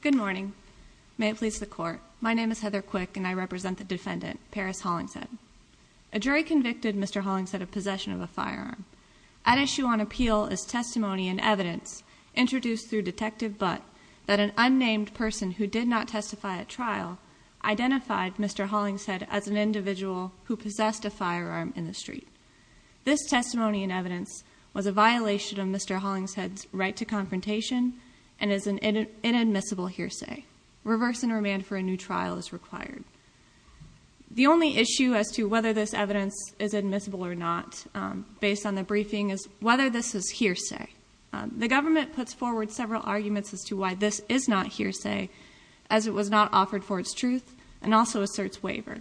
Good morning. May it please the court. My name is Heather Quick and I represent the defendant, Paris Hollingshed. A jury convicted Mr. Hollingshed of possession of a firearm. At issue on appeal is testimony and evidence introduced through Detective Butt that an unnamed person who did not testify at trial identified Mr. Hollingshed as an individual who possessed a firearm in the street. This testimony and evidence was a violation of Mr. Hollingshed's right to confrontation and is an inadmissible hearsay. Reverse and remand for a new trial is required. The only issue as to whether this evidence is admissible or not based on the briefing is whether this is hearsay. The government puts forward several arguments as to why this is not hearsay as it was not offered for its truth and also asserts waiver.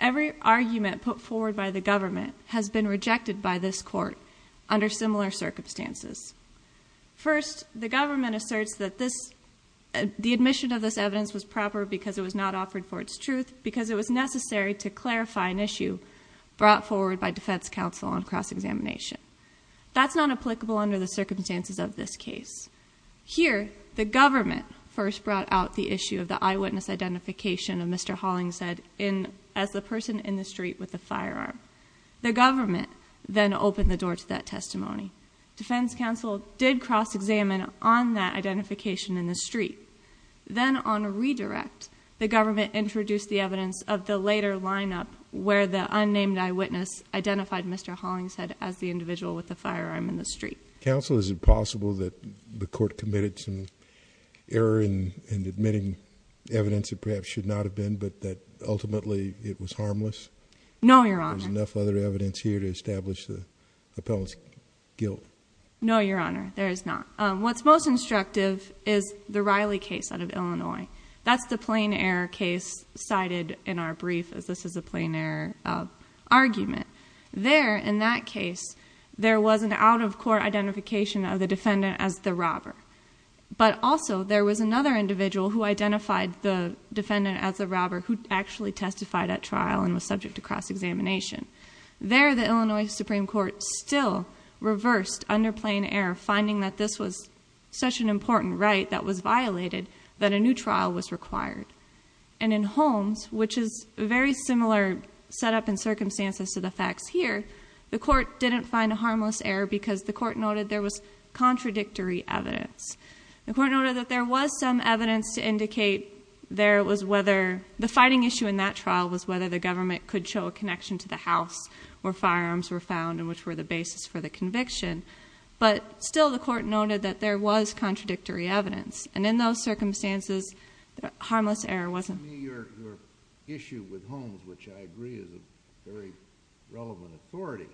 Every argument put forward by the government has been rejected by this court under similar circumstances. First, the government asserts that the admission of this evidence was proper because it was not offered for its truth because it was necessary to clarify an issue brought forward by defense counsel on cross-examination. That's not applicable under the circumstances of this case. Here, the government first brought out the issue of the eyewitness identification of Mr. Hollingshed as the person in the street with the firearm. Defense counsel did cross-examine on that identification in the street. Then on a redirect, the government introduced the evidence of the later lineup where the unnamed eyewitness identified Mr. Hollingshed as the individual with the firearm in the street. Counsel, is it possible that the court committed some error in admitting evidence that perhaps should not have been but that ultimately it was harmless? No, Your Honor. There's enough other evidence here to establish the appellant's guilt. No, Your Honor. There is not. What's most instructive is the Riley case out of Illinois. That's the plain error case cited in our brief as this is a plain error argument. There, in that case, there was an out-of-court identification of the defendant as the robber, but also there was another individual who identified the defendant as a robber who actually testified at trial and was subject to cross-examination. There, the Illinois Supreme Court still reversed under plain error, finding that this was such an important right that was violated that a new trial was required. And in Holmes, which is a very similar setup and circumstances to the facts here, the court didn't find a harmless error because the court noted there was contradictory evidence. The court noted that there was some evidence to indicate there was whether... the fighting issue in that trial was whether the government could show a connection to the house where firearms were found and which were the basis for the conviction. But still, the court noted that there was contradictory evidence. And in those circumstances, the harmless error wasn't... Your issue with Holmes, which I agree is a very relevant authority,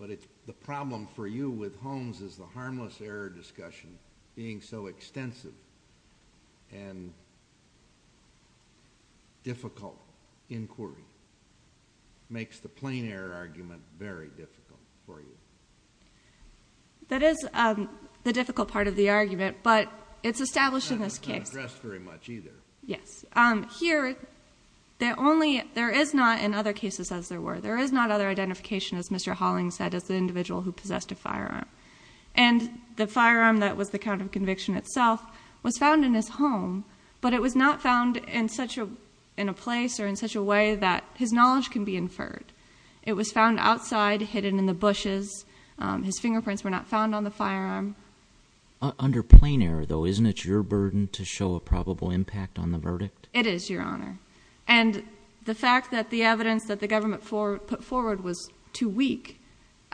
but the problem for you with Holmes is the harmless error discussion being so difficult in court. It makes the plain error argument very difficult for you. That is the difficult part of the argument, but it's established in this case. It's not addressed very much either. Yes. Here, the only... there is not, in other cases as there were, there is not other identification, as Mr. Hollings said, as the individual who possessed a firearm. And the firearm that was the count of was not found in such a... in a place or in such a way that his knowledge can be inferred. It was found outside, hidden in the bushes. His fingerprints were not found on the firearm. Under plain error, though, isn't it your burden to show a probable impact on the verdict? It is, Your Honor. And the fact that the evidence that the government put forward was too weak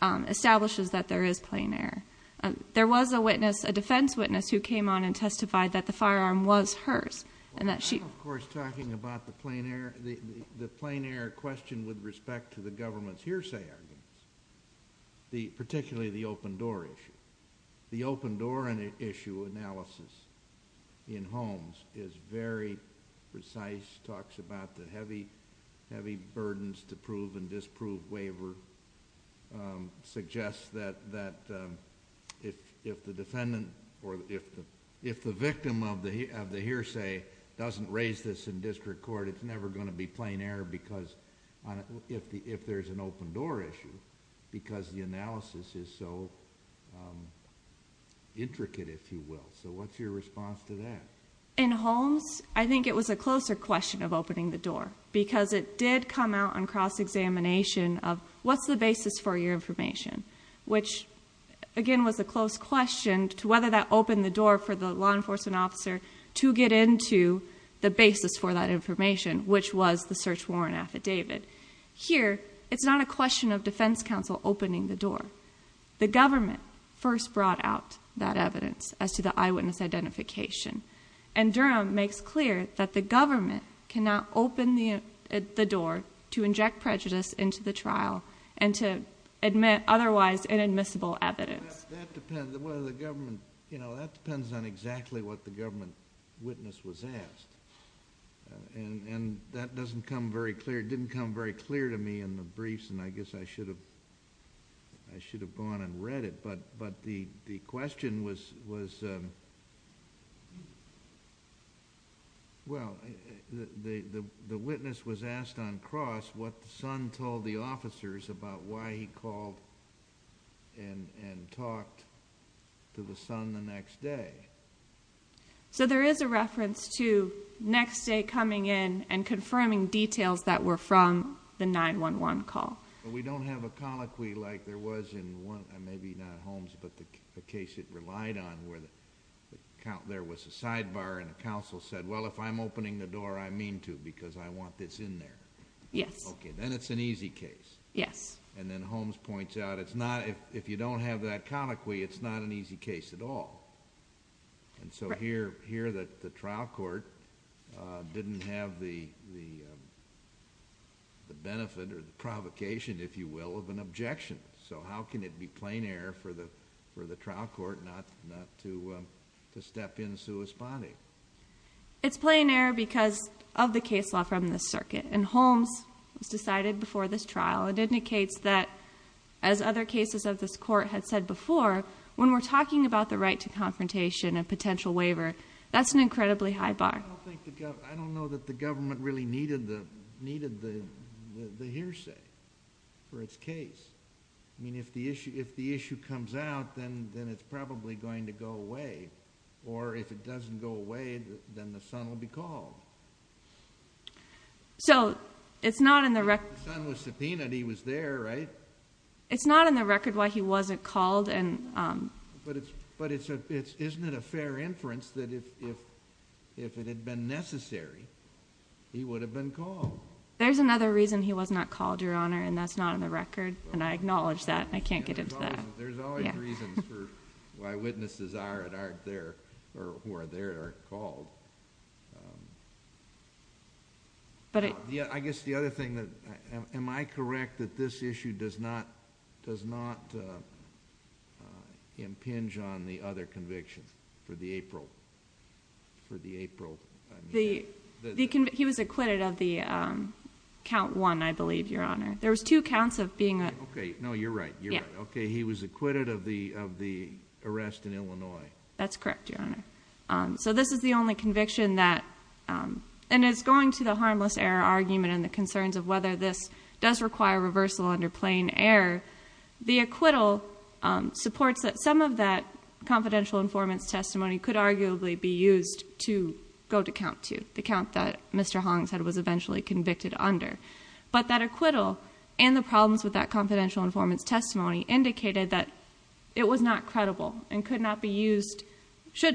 establishes that there is plain error. There was a witness, a defense witness, who came on and that she... Of course, talking about the plain error... the plain error question with respect to the government's hearsay argument, particularly the open-door issue. The open-door issue analysis in Holmes is very precise, talks about the heavy burdens to prove and disprove waiver, suggests that if the defendant or if the victim of the hearsay doesn't raise this in district court, it's never going to be plain error because... if there's an open-door issue, because the analysis is so intricate, if you will. So what's your response to that? In Holmes, I think it was a closer question of opening the door because it did come out on cross-examination of what's the basis for your information, which again was a close question to whether that opened the door for the law enforcement officer to get into the basis for that information, which was the search warrant affidavit. Here, it's not a question of defense counsel opening the door. The government first brought out that evidence as to the eyewitness identification. And Durham makes clear that the government cannot open the door to inject prejudice into the trial and to admit otherwise inadmissible evidence. That depends on exactly what the government witness was asked. That doesn't come very clear, didn't come very clear to me in the briefs and I guess I should have gone and read it. But the question was... well, the witness was asked on cross what the son told the officers about why he called and talked to the son the next day. So there is a reference to next day coming in and confirming details that were from the 911 call. We don't have a colloquy like there was in one... maybe not Holmes, but the case it relied on where there was a sidebar and a counsel said, well, if I'm correct, it's in there. Yes. Okay, then it's an easy case. Yes. And then Holmes points out it's not... if you don't have that colloquy, it's not an easy case at all. Right. And so here that the trial court didn't have the benefit or the provocation, if you will, of an objection. So how can it be plain error for the trial court not to step in and sue his body? It's plain error because of the case law from the circuit and Holmes was decided before this trial. It indicates that as other cases of this court had said before, when we're talking about the right to confrontation and potential waiver, that's an incredibly high bar. I don't think the... I don't know that the government really needed the hearsay for its case. I mean, if the issue comes out, then it's probably going to go away or if it doesn't go away, then the son will be called. So it's not in the record... If the son was subpoenaed, he was there, right? It's not in the record why he wasn't called. But isn't it a fair inference that if it had been necessary, he would have been called? There's another reason he was not called, Your Honor, and that's not in the record and I acknowledge that. I can't get into that. There's always reasons for why witnesses are and aren't there, or who are there, are called. I guess the other thing, am I correct that this issue does not impinge on the other conviction for the April... He was acquitted of the count one, I believe, Your Honor. There was two counts of being... Okay. No, you're right. Okay, he was acquitted of the arrest in Illinois. That's correct, Your Honor. So this is the only conviction that... and it's going to the harmless error argument and the concerns of whether this does require reversal under plain error. The acquittal supports that some of that confidential informant's testimony could arguably be used to go to count two, the count that Mr. Hong said was eventually convicted under. But that acquittal and the problems with that confidential informant's testimony indicated that it was not credible and could not be used...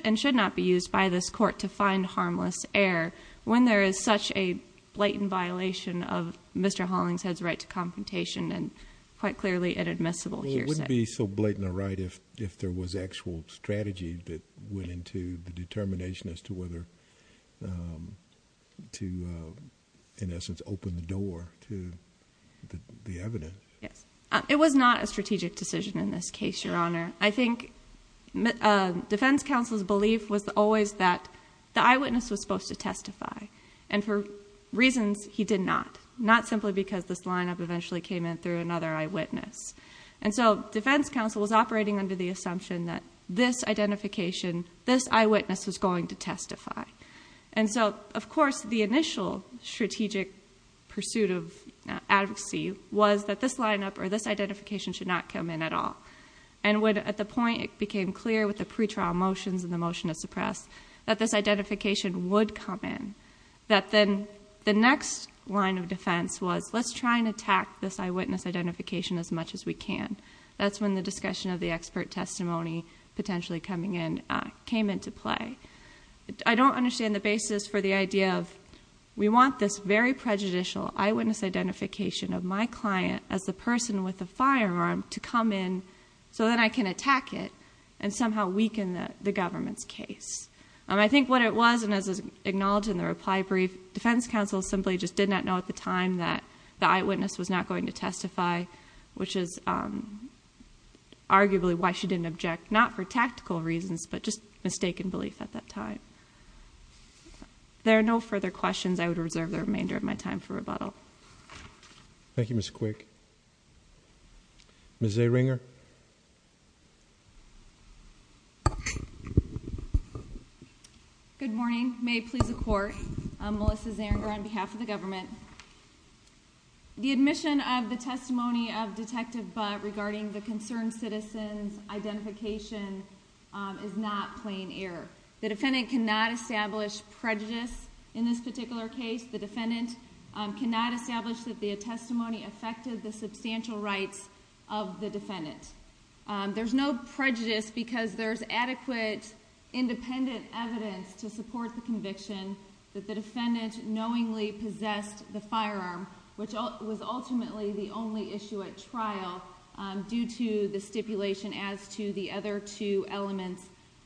and should not be used by this court to find harmless error when there is such a blatant violation of Mr. Hollingshead's right to confrontation and quite clearly inadmissible, you're saying. It wouldn't be so blatant a right if there was actual strategy that went into the determination as to whether to, in essence, open the door to the evidence. Yes. It was not a strategic decision in this case, Your Honor. I think defense counsel's belief was always that the eyewitness was supposed to testify and for reasons he did not, not simply because this lineup eventually came in through another eyewitness. And so defense counsel was operating under the assumption that this identification, this eyewitness was going to testify. And so, of course, the initial strategic pursuit of advocacy was that this lineup or this identification should not come in at all. And when, at the point, it became clear with the pretrial motions and the motion to suppress that this identification would come in, that then the next line of defense was let's try and attack this eyewitness identification as much as we can. That's when the discussion of the expert testimony potentially coming in came into play. I don't understand the basis for the idea of we want this very as the person with the firearm to come in so that I can attack it and somehow weaken the government's case. I think what it was, and as acknowledged in the reply brief, defense counsel simply just did not know at the time that the eyewitness was not going to testify, which is arguably why she didn't object, not for tactical reasons, but just mistaken belief at that time. There are no further questions. I would reserve the remainder of my time for rebuttal. Thank you. Thank you, Mr. Quick. Ms. Zeringer? Good morning. May it please the Court, I'm Melissa Zeringer on behalf of the government. The admission of the testimony of Detective Butt regarding the concerned citizen's identification is not plain error. The defendant cannot establish prejudice in this particular case. The defendant cannot establish that the testimony affected the substantial rights of the defendant. There's no prejudice because there's adequate independent evidence to support the conviction that the defendant knowingly possessed the firearm, which was ultimately the only issue at trial due to the stipulation as to the other two elements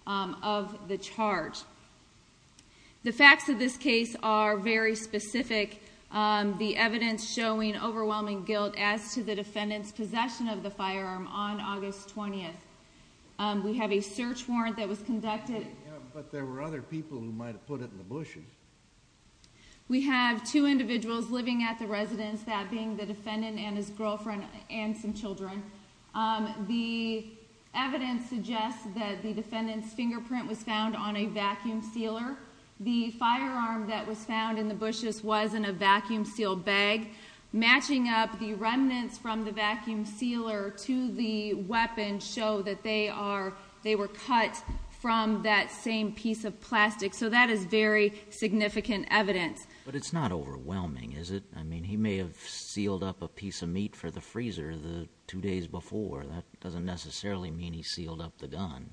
of the charge. The facts of this case are very specific. The evidence showing overwhelming guilt as to the defendant's possession of the firearm on August 20th. We have a search warrant that was conducted... But there were other people who might have put it in the bushes. We have two individuals living at the residence, that being the defendant and his girlfriend and some children. The evidence suggests that the defendant's fingerprint was found on a vacuum sealer. The firearm that was found in the bushes was in a vacuum seal bag. Matching up the remnants from the vacuum sealer to the weapon show that they were cut from that same piece of plastic. So that is very significant evidence. But it's not overwhelming, is it? I mean, he may have sealed up a piece of meat for the freezer the two days before. That doesn't necessarily mean he sealed up the gun.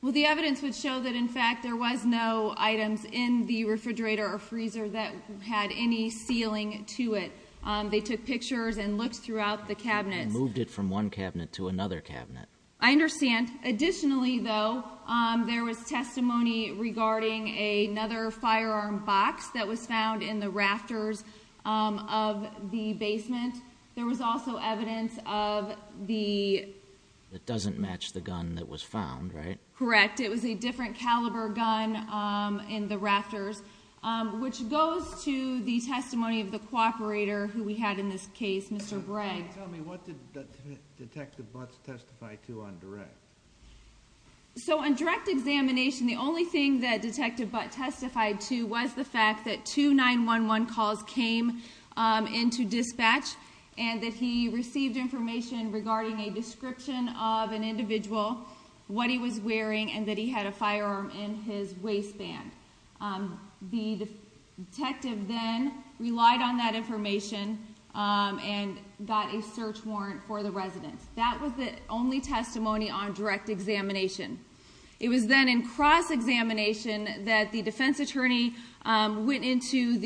Well, the evidence would show that, in fact, there was no items in the refrigerator or freezer that had any sealing to it. They took pictures and looked throughout the cabinets. They moved it from one cabinet to another cabinet. I understand. Additionally, though, there was testimony regarding another firearm box that was found in the rafters of the basement. There was also evidence of the... That doesn't match the gun that was found, right? Correct. It was a different caliber gun in the rafters, which goes to the testimony of the cooperator who we had in this case, Mr. Breg. Tell me, what did Detective Butts testify to on direct? So on direct examination, the only thing that Detective Butts testified to was the fact that two 911 calls came into dispatch and that he received information regarding a description of an individual, what he was wearing, and that he had a firearm in his waistband. The detective then relied on that information and got a search warrant for the residence. That was the only testimony on direct examination. It was then in cross-examination that the defense attorney went into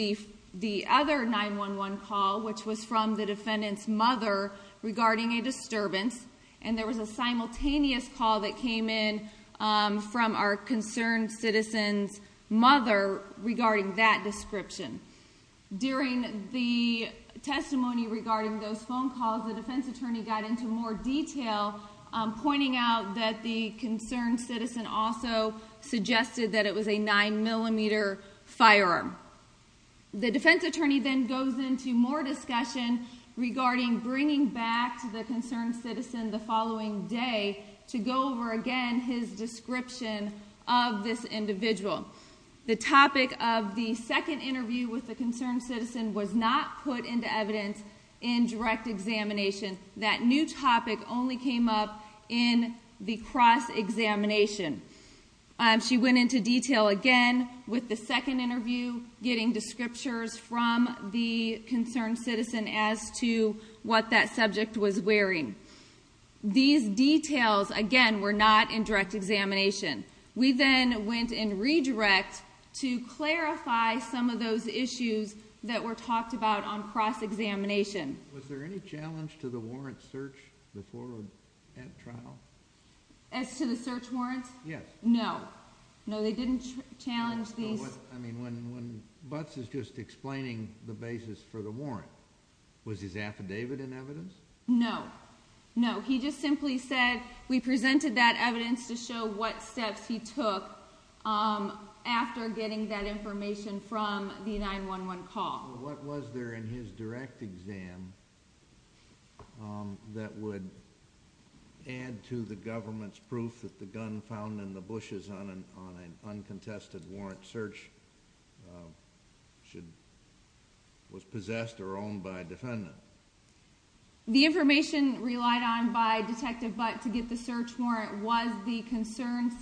the other 911 call, which was from the defendant's mother, regarding a disturbance, and there was a simultaneous call that came in from our concerned citizen's mother regarding that description. During the testimony regarding those phone calls, the defense attorney got into more discussion. The concerned citizen also suggested that it was a 9mm firearm. The defense attorney then goes into more discussion regarding bringing back to the concerned citizen the following day to go over again his description of this individual. The topic of the second interview with the concerned citizen was not put into evidence in direct examination. That new topic only came up in the cross-examination. She went into detail again with the second interview, getting descriptors from the concerned citizen as to what that subject was wearing. These details, again, were not in direct examination. We then went in redirect to clarify some of those issues that were talked about on cross-examination. Was there any challenge to the warrant search before that trial? As to the search warrants? Yes. No. No, they didn't challenge these. I mean, when Butts is just explaining the basis for the warrant, was his affidavit in evidence? No. No. He just simply said, we presented that evidence to show what steps he took after getting that information from the 911 call. What was there in his direct exam that would add to the government's proof that the gun found in the bushes on an uncontested warrant search was possessed or owned by a defendant? The information relied on by Detective Butts to get the search warrant was the concerned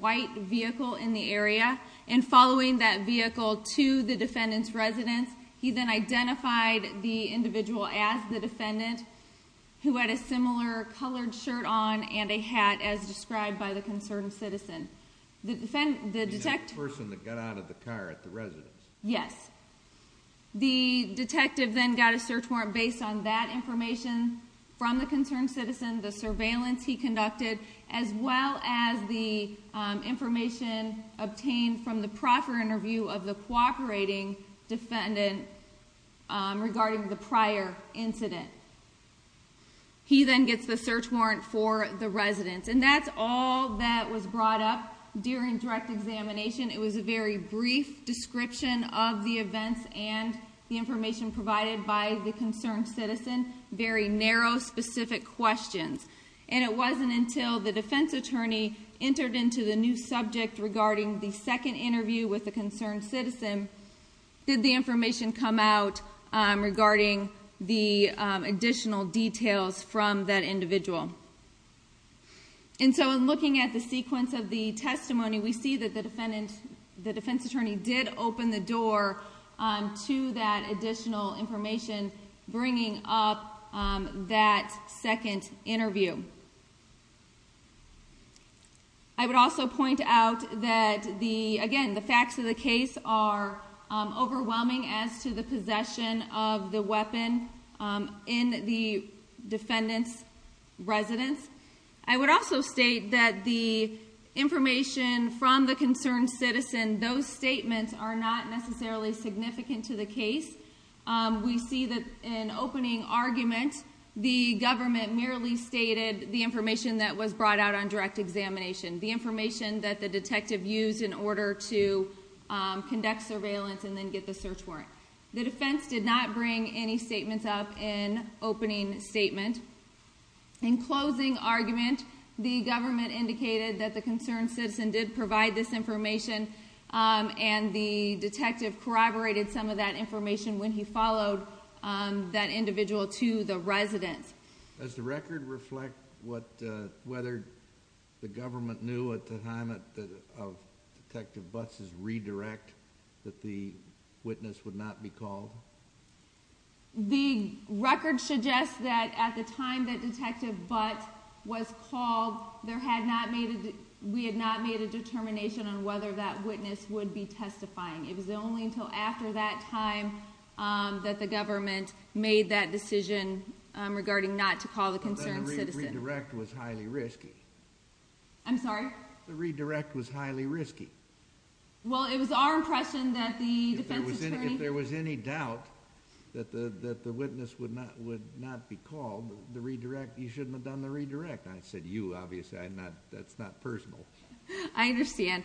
white vehicle in the area, and following that vehicle to the defendant's residence, he then identified the individual as the defendant, who had a similar colored shirt on and a hat as described by the concerned citizen. The person that got out of the car at the residence? Yes. The detective then got a search warrant based on that information from the concerned citizen, the surveillance he conducted, as well as the information obtained from the proper interview of the cooperating defendant regarding the prior incident. He then gets the search warrant for the residence, and that's all that was brought up during direct examination. It was a very brief description of the events and the information provided by the concerned citizen, very narrow, specific questions, and it wasn't until the defense attorney entered into the new subject regarding the second interview with the concerned citizen did the information come out regarding the additional details from that individual. In looking at the sequence of the testimony, we see that the defense attorney did open the door to that additional information bringing up that second interview. I would also point out that, again, the facts of the case are overwhelming as to the possession of the weapon in the defendant's residence. I would also state that the information from the concerned citizen, those statements are not necessarily significant to the case. We see that in opening argument, the government merely stated the information that was brought out on direct examination, the information that the detective used in order to conduct surveillance and then get the search warrant. The defense did not bring any statements up in opening statement. In closing argument, the government indicated that the concerned citizen did provide this information. The detective corroborated some of that information when he followed that individual to the residence. Does the record reflect whether the government knew at the time of Detective Butts' redirect that the witness would not be called? The record suggests that at the time that Detective Butts was called, we had not made a determination on whether that witness would be testifying. It was only until after that time that the government made that decision regarding not to call the concerned citizen. The redirect was highly risky. I'm sorry? The redirect was highly risky. It was our impression that the defense attorney... If there was any doubt that the witness would not be called, you shouldn't have done the redirect. I said, you, obviously. That's not personal. I understand.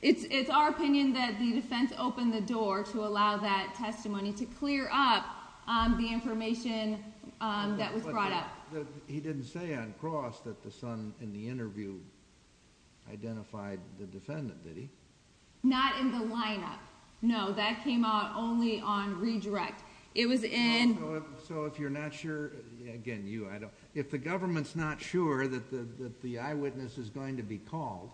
It's our opinion that the defense opened the door to allow that testimony to clear up the information that was brought up. He didn't say on cross that the son in the interview identified the defendant, did he? Not in the lineup. No, that came out only on redirect. It was in... If you're not sure, again, you, I don't... If the government's not sure that the eyewitness is going to be called,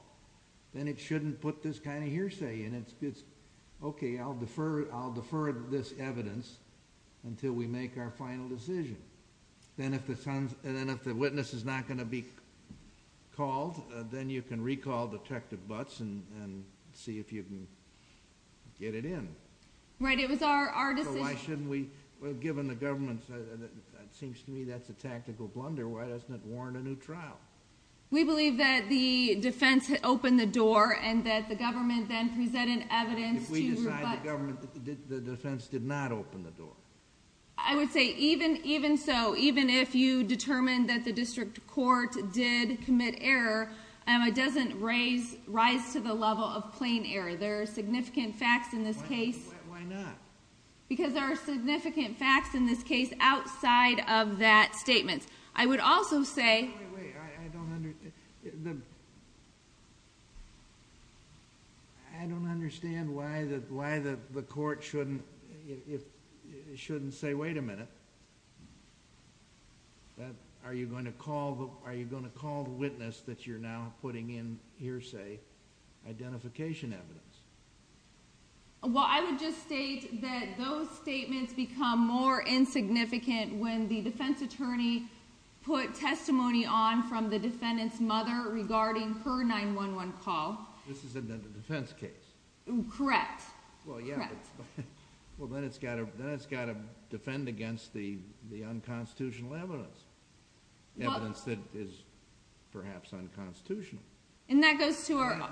then it shouldn't put this kind of hearsay in. It's, okay, I'll defer this evidence until we make our final decision. Then if the witness is not going to be called, then you can recall Detective Butts and see if you can get it in. Right. It was our decision. Why shouldn't we? Well, given the government's... It seems to me that's a tactical blunder. Why doesn't it warrant a new trial? We believe that the defense had opened the door and that the government then presented evidence to... If we decide the government, the defense did not open the door. I would say even so, even if you determine that the district court did commit error, it doesn't rise to the level of plain error. There are significant facts in this case... Why not? Because there are significant facts in this case outside of that statement. I would also say... Wait, wait, wait. I don't understand. I don't understand why the court shouldn't say, wait a minute. Are you going to call the witness that you're now putting in hearsay identification evidence? Well, I would just state that those statements become more insignificant when the defense attorney put testimony on from the defendant's mother regarding her 911 call. This is a defense case. Correct. Correct. Well, then it's got to defend against the unconstitutional evidence. Evidence that is perhaps unconstitutional. That goes to our... That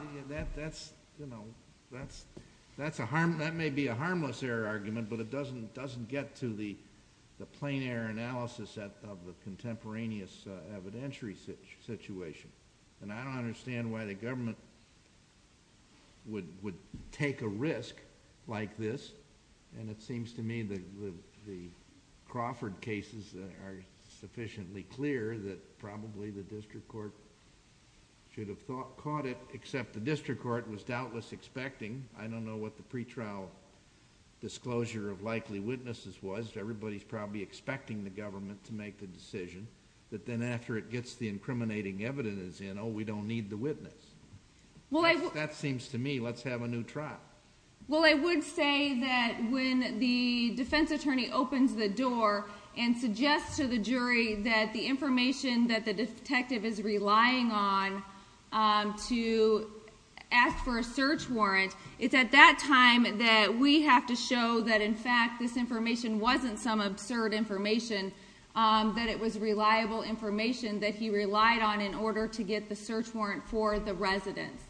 may be a harmless error argument, but it doesn't get to the plain error analysis of the contemporaneous evidentiary situation. I don't understand why the government would take a risk like this. It seems to me that the Crawford cases are sufficiently clear that probably the district court should have caught it, except the district court was doubtless expecting. I don't know what the pretrial disclosure of likely witnesses was. Everybody's probably expecting the government to make the decision, but then after it gets the incriminating evidence in, oh, we don't need the witness. That seems to me, let's have a new trial. Well, I would say that when the defense attorney opens the door and suggests to the jury that the information that the detective is relying on to ask for a search warrant, it's at that time that we have to show that, in fact, this information wasn't some absurd information, that it was reliable information that he relied on in order to get the search warrant for the residence.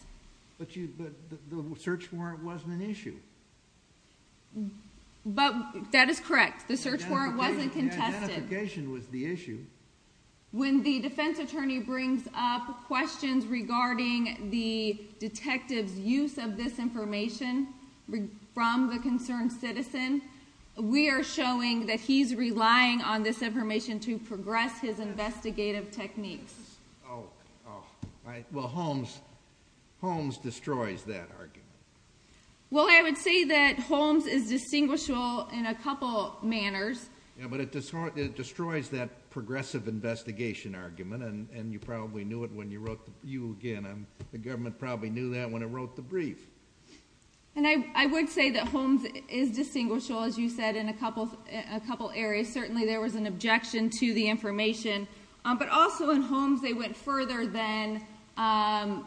But the search warrant wasn't an issue. That is correct. The search warrant wasn't contested. The identification was the issue. When the defense attorney brings up questions regarding the detective's use of this information from the concerned citizen, we are showing that he's relying on this information to progress his investigative techniques. Oh. Oh. All right. Well, Holmes destroys that argument. Well, I would say that Holmes is distinguishable in a couple manners. Yeah, but it destroys that progressive investigation argument, and you probably knew it when you wrote... You, again, the government probably knew that when it wrote the brief. I would say that Holmes is distinguishable, as you said, in a couple areas. Certainly there was an objection to the information, but also in Holmes they went further than in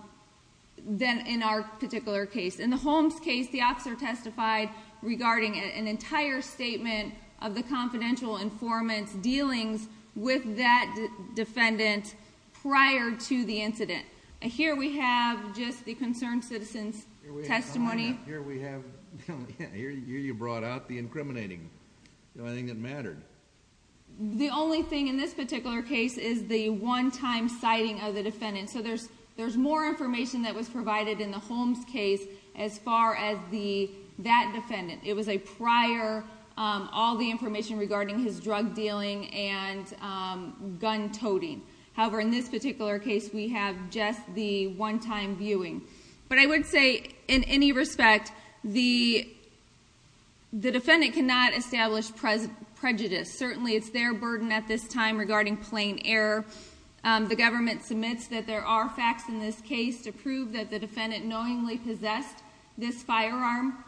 our particular case. In the Holmes case, the officer testified regarding an entire statement of the confidential informant's dealings with that defendant prior to the incident. Here we have just the concerned citizen's testimony. Here we have... Here you brought out the incriminating. The only thing that mattered. The only thing in this particular case is the one-time citing of the defendant. There's more information that was provided in the Holmes case as far as that defendant. It was a prior, all the information regarding his drug dealing and gun toting. However, in this particular case, we have just the one-time viewing. I would say, in any respect, the defendant cannot establish prejudice. Certainly it's their burden at this time regarding plain error. The government submits that there are facts in this case to prove that the defendant knowingly possessed this firearm.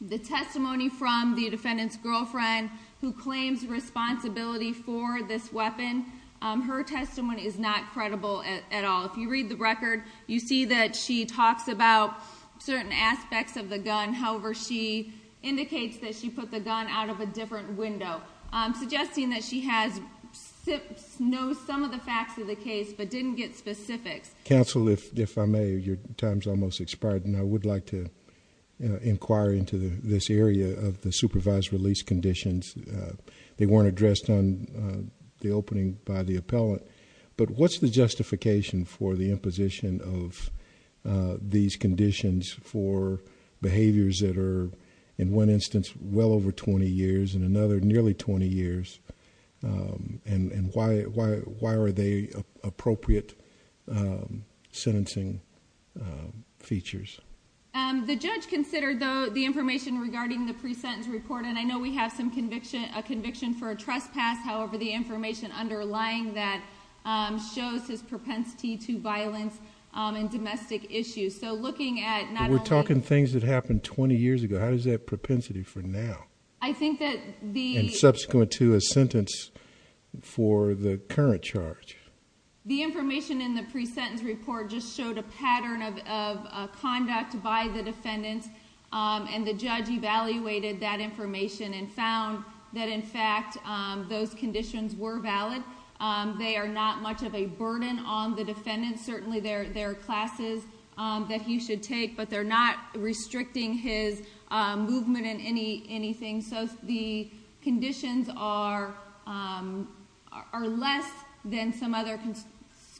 The testimony from the defendant's girlfriend, who claims responsibility for this weapon, her testimony is not credible at all. If you read the record, you see that she talks about certain aspects of the gun. However, she indicates that she put the gun out of a different window, suggesting that she knows some of the facts of the case, but didn't get specifics. Counsel, if I may, your time's almost expired, and I would like to inquire into this area of the supervised release conditions. They weren't addressed on the opening by the appellant, but what's the justification for the imposition of these conditions for behaviors that are, in one instance, well over 20 years, in another, nearly 20 years? And why are they appropriate sentencing features? The judge considered the information regarding the pre-sentence report, and I know we have a conviction for a trespass. However, the information underlying that shows his propensity to violence and domestic issues. So looking at not only- What is that propensity for now? I think that the- And subsequent to a sentence for the current charge. The information in the pre-sentence report just showed a pattern of conduct by the defendants, and the judge evaluated that information and found that, in fact, those conditions were valid. They are not much of a burden on the defendant. Certainly, there are classes that he should take, but they're not restricting his movement in anything. So the conditions are less than some other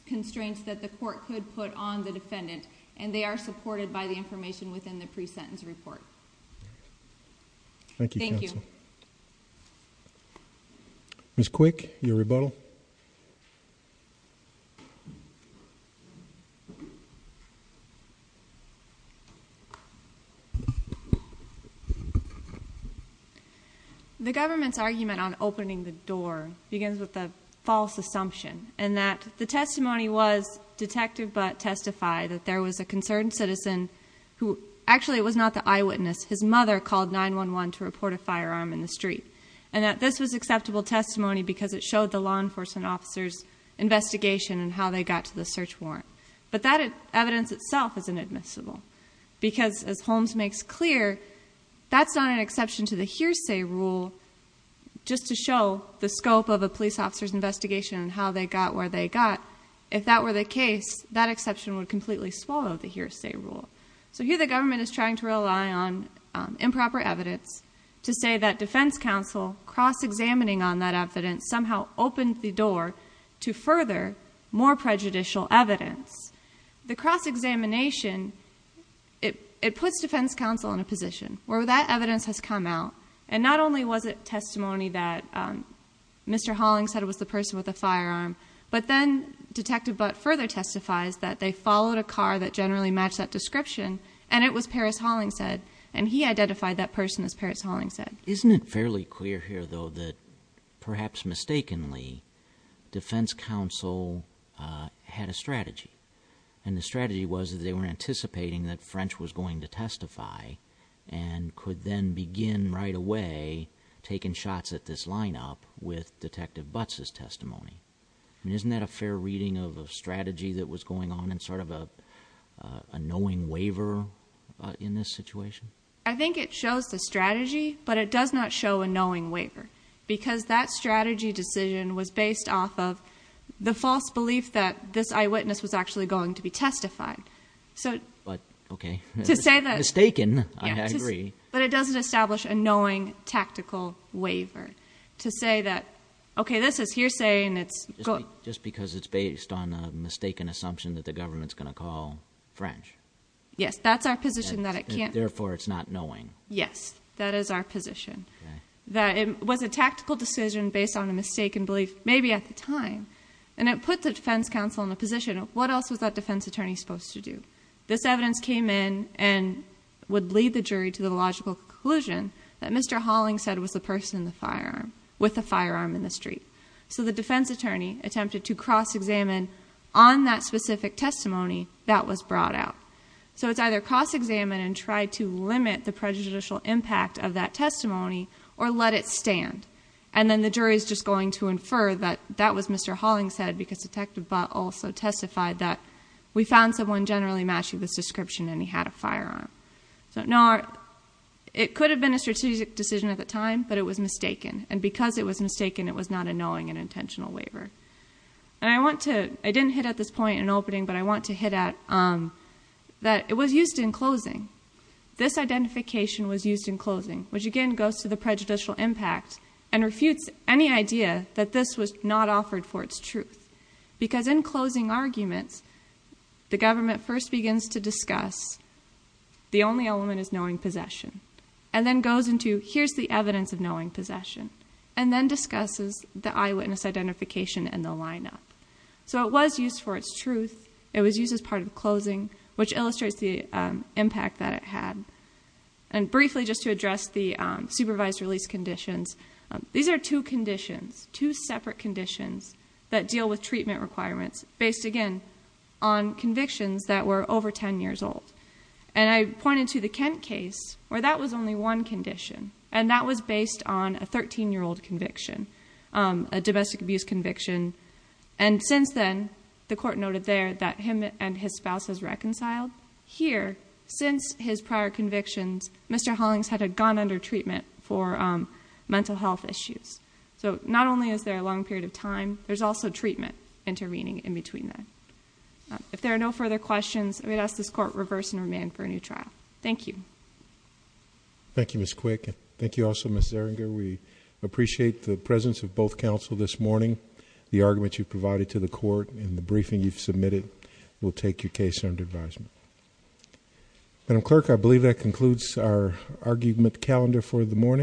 constraints that the court could put on the defendant, and they are supported by the information within the pre-sentence report. Thank you, counsel. Thank you. Ms. Quick, your rebuttal. The government's argument on opening the door begins with a false assumption, and that the testimony was detective but testify that there was a concerned citizen who, actually it was not the eyewitness, his mother called 9-1-1 to report a firearm in the street. And that this was acceptable testimony because it showed the law enforcement officer's investigation on how they got to the search warrant. But that evidence itself is inadmissible because, as Holmes makes clear, that's not an exception to the hearsay rule just to show the scope of a police officer's investigation and how they got where they got. If that were the case, that exception would completely swallow the hearsay rule. So here the government is trying to rely on improper evidence to say that defense counsel cross-examining on that evidence somehow opened the door to further more prejudicial evidence. The cross-examination, it puts defense counsel in a position where that evidence has come out. And not only was it testimony that Mr. Hollings said it was the person with the firearm, but then Detective Butt further testifies that they followed a car that generally matched that description, and it was Paris Hollings said. And he identified that person as Paris Hollings said. Isn't it fairly clear here, though, that perhaps mistakenly defense counsel had a strategy? And the strategy was that they were anticipating that French was going to testify and could then begin right away taking shots at this lineup with Detective Butts' testimony. And isn't that a fair reading of a strategy that was going on in sort of a knowing waiver in this situation? I think it shows the strategy, but it does not show a knowing waiver. Because that strategy decision was based off of the false belief that this eyewitness was actually going to be testified. So- But, okay. To say that- Mistaken, I agree. But it doesn't establish a knowing tactical waiver to say that, okay, this is hearsay and it's- Just because it's based on a mistaken assumption that the government's going to call French. Yes, that's our position that it can't- Therefore, it's not knowing. Yes, that is our position. That it was a tactical decision based on a mistaken belief, maybe at the time. And it put the defense counsel in a position of what else was that defense attorney supposed to do? This evidence came in and would lead the jury to the logical conclusion that Mr. Hollings said was the person with the firearm in the street. So the defense attorney attempted to cross-examine on that specific testimony that was brought out. So it's either cross-examine and try to limit the prejudicial impact of that testimony or let it stand. And then the jury's just going to infer that that was Mr. Hollings said because Detective Butt also testified that we found someone generally matching this description and he had a firearm. So no, it could have been a strategic decision at the time, but it was mistaken. And because it was mistaken, it was not a knowing and intentional waiver. And I want to, I didn't hit at this point in opening, but I want to hit at that it was used in closing. This identification was used in closing, which again goes to the prejudicial impact and refutes any idea that this was not offered for its truth. Because in closing arguments, the government first begins to discuss the only element is knowing possession. And then goes into here's the evidence of knowing possession. And then discusses the eyewitness identification and the lineup. So it was used for its truth. It was used as part of closing, which illustrates the impact that it had. And briefly just to address the supervised release conditions, these are two conditions, two separate conditions that deal with treatment requirements based again on convictions that were over ten years old. And I pointed to the Kent case where that was only one condition. And that was based on a 13-year-old conviction, a domestic abuse conviction. And since then, the court noted there that him and his spouse has reconciled. Here, since his prior convictions, Mr. Hollings had gone under treatment for mental health issues. So not only is there a long period of time, there's also treatment intervening in between that. If there are no further questions, I'm going to ask this court to reverse and remand for a new trial. Thank you. Thank you, Ms. Quick. Thank you also, Ms. Zerringer. We appreciate the presence of both counsel this morning. The argument you've provided to the court and the briefing you've submitted will take your case under advisement. Madam Clerk, I believe that concludes our argument calendar for the morning.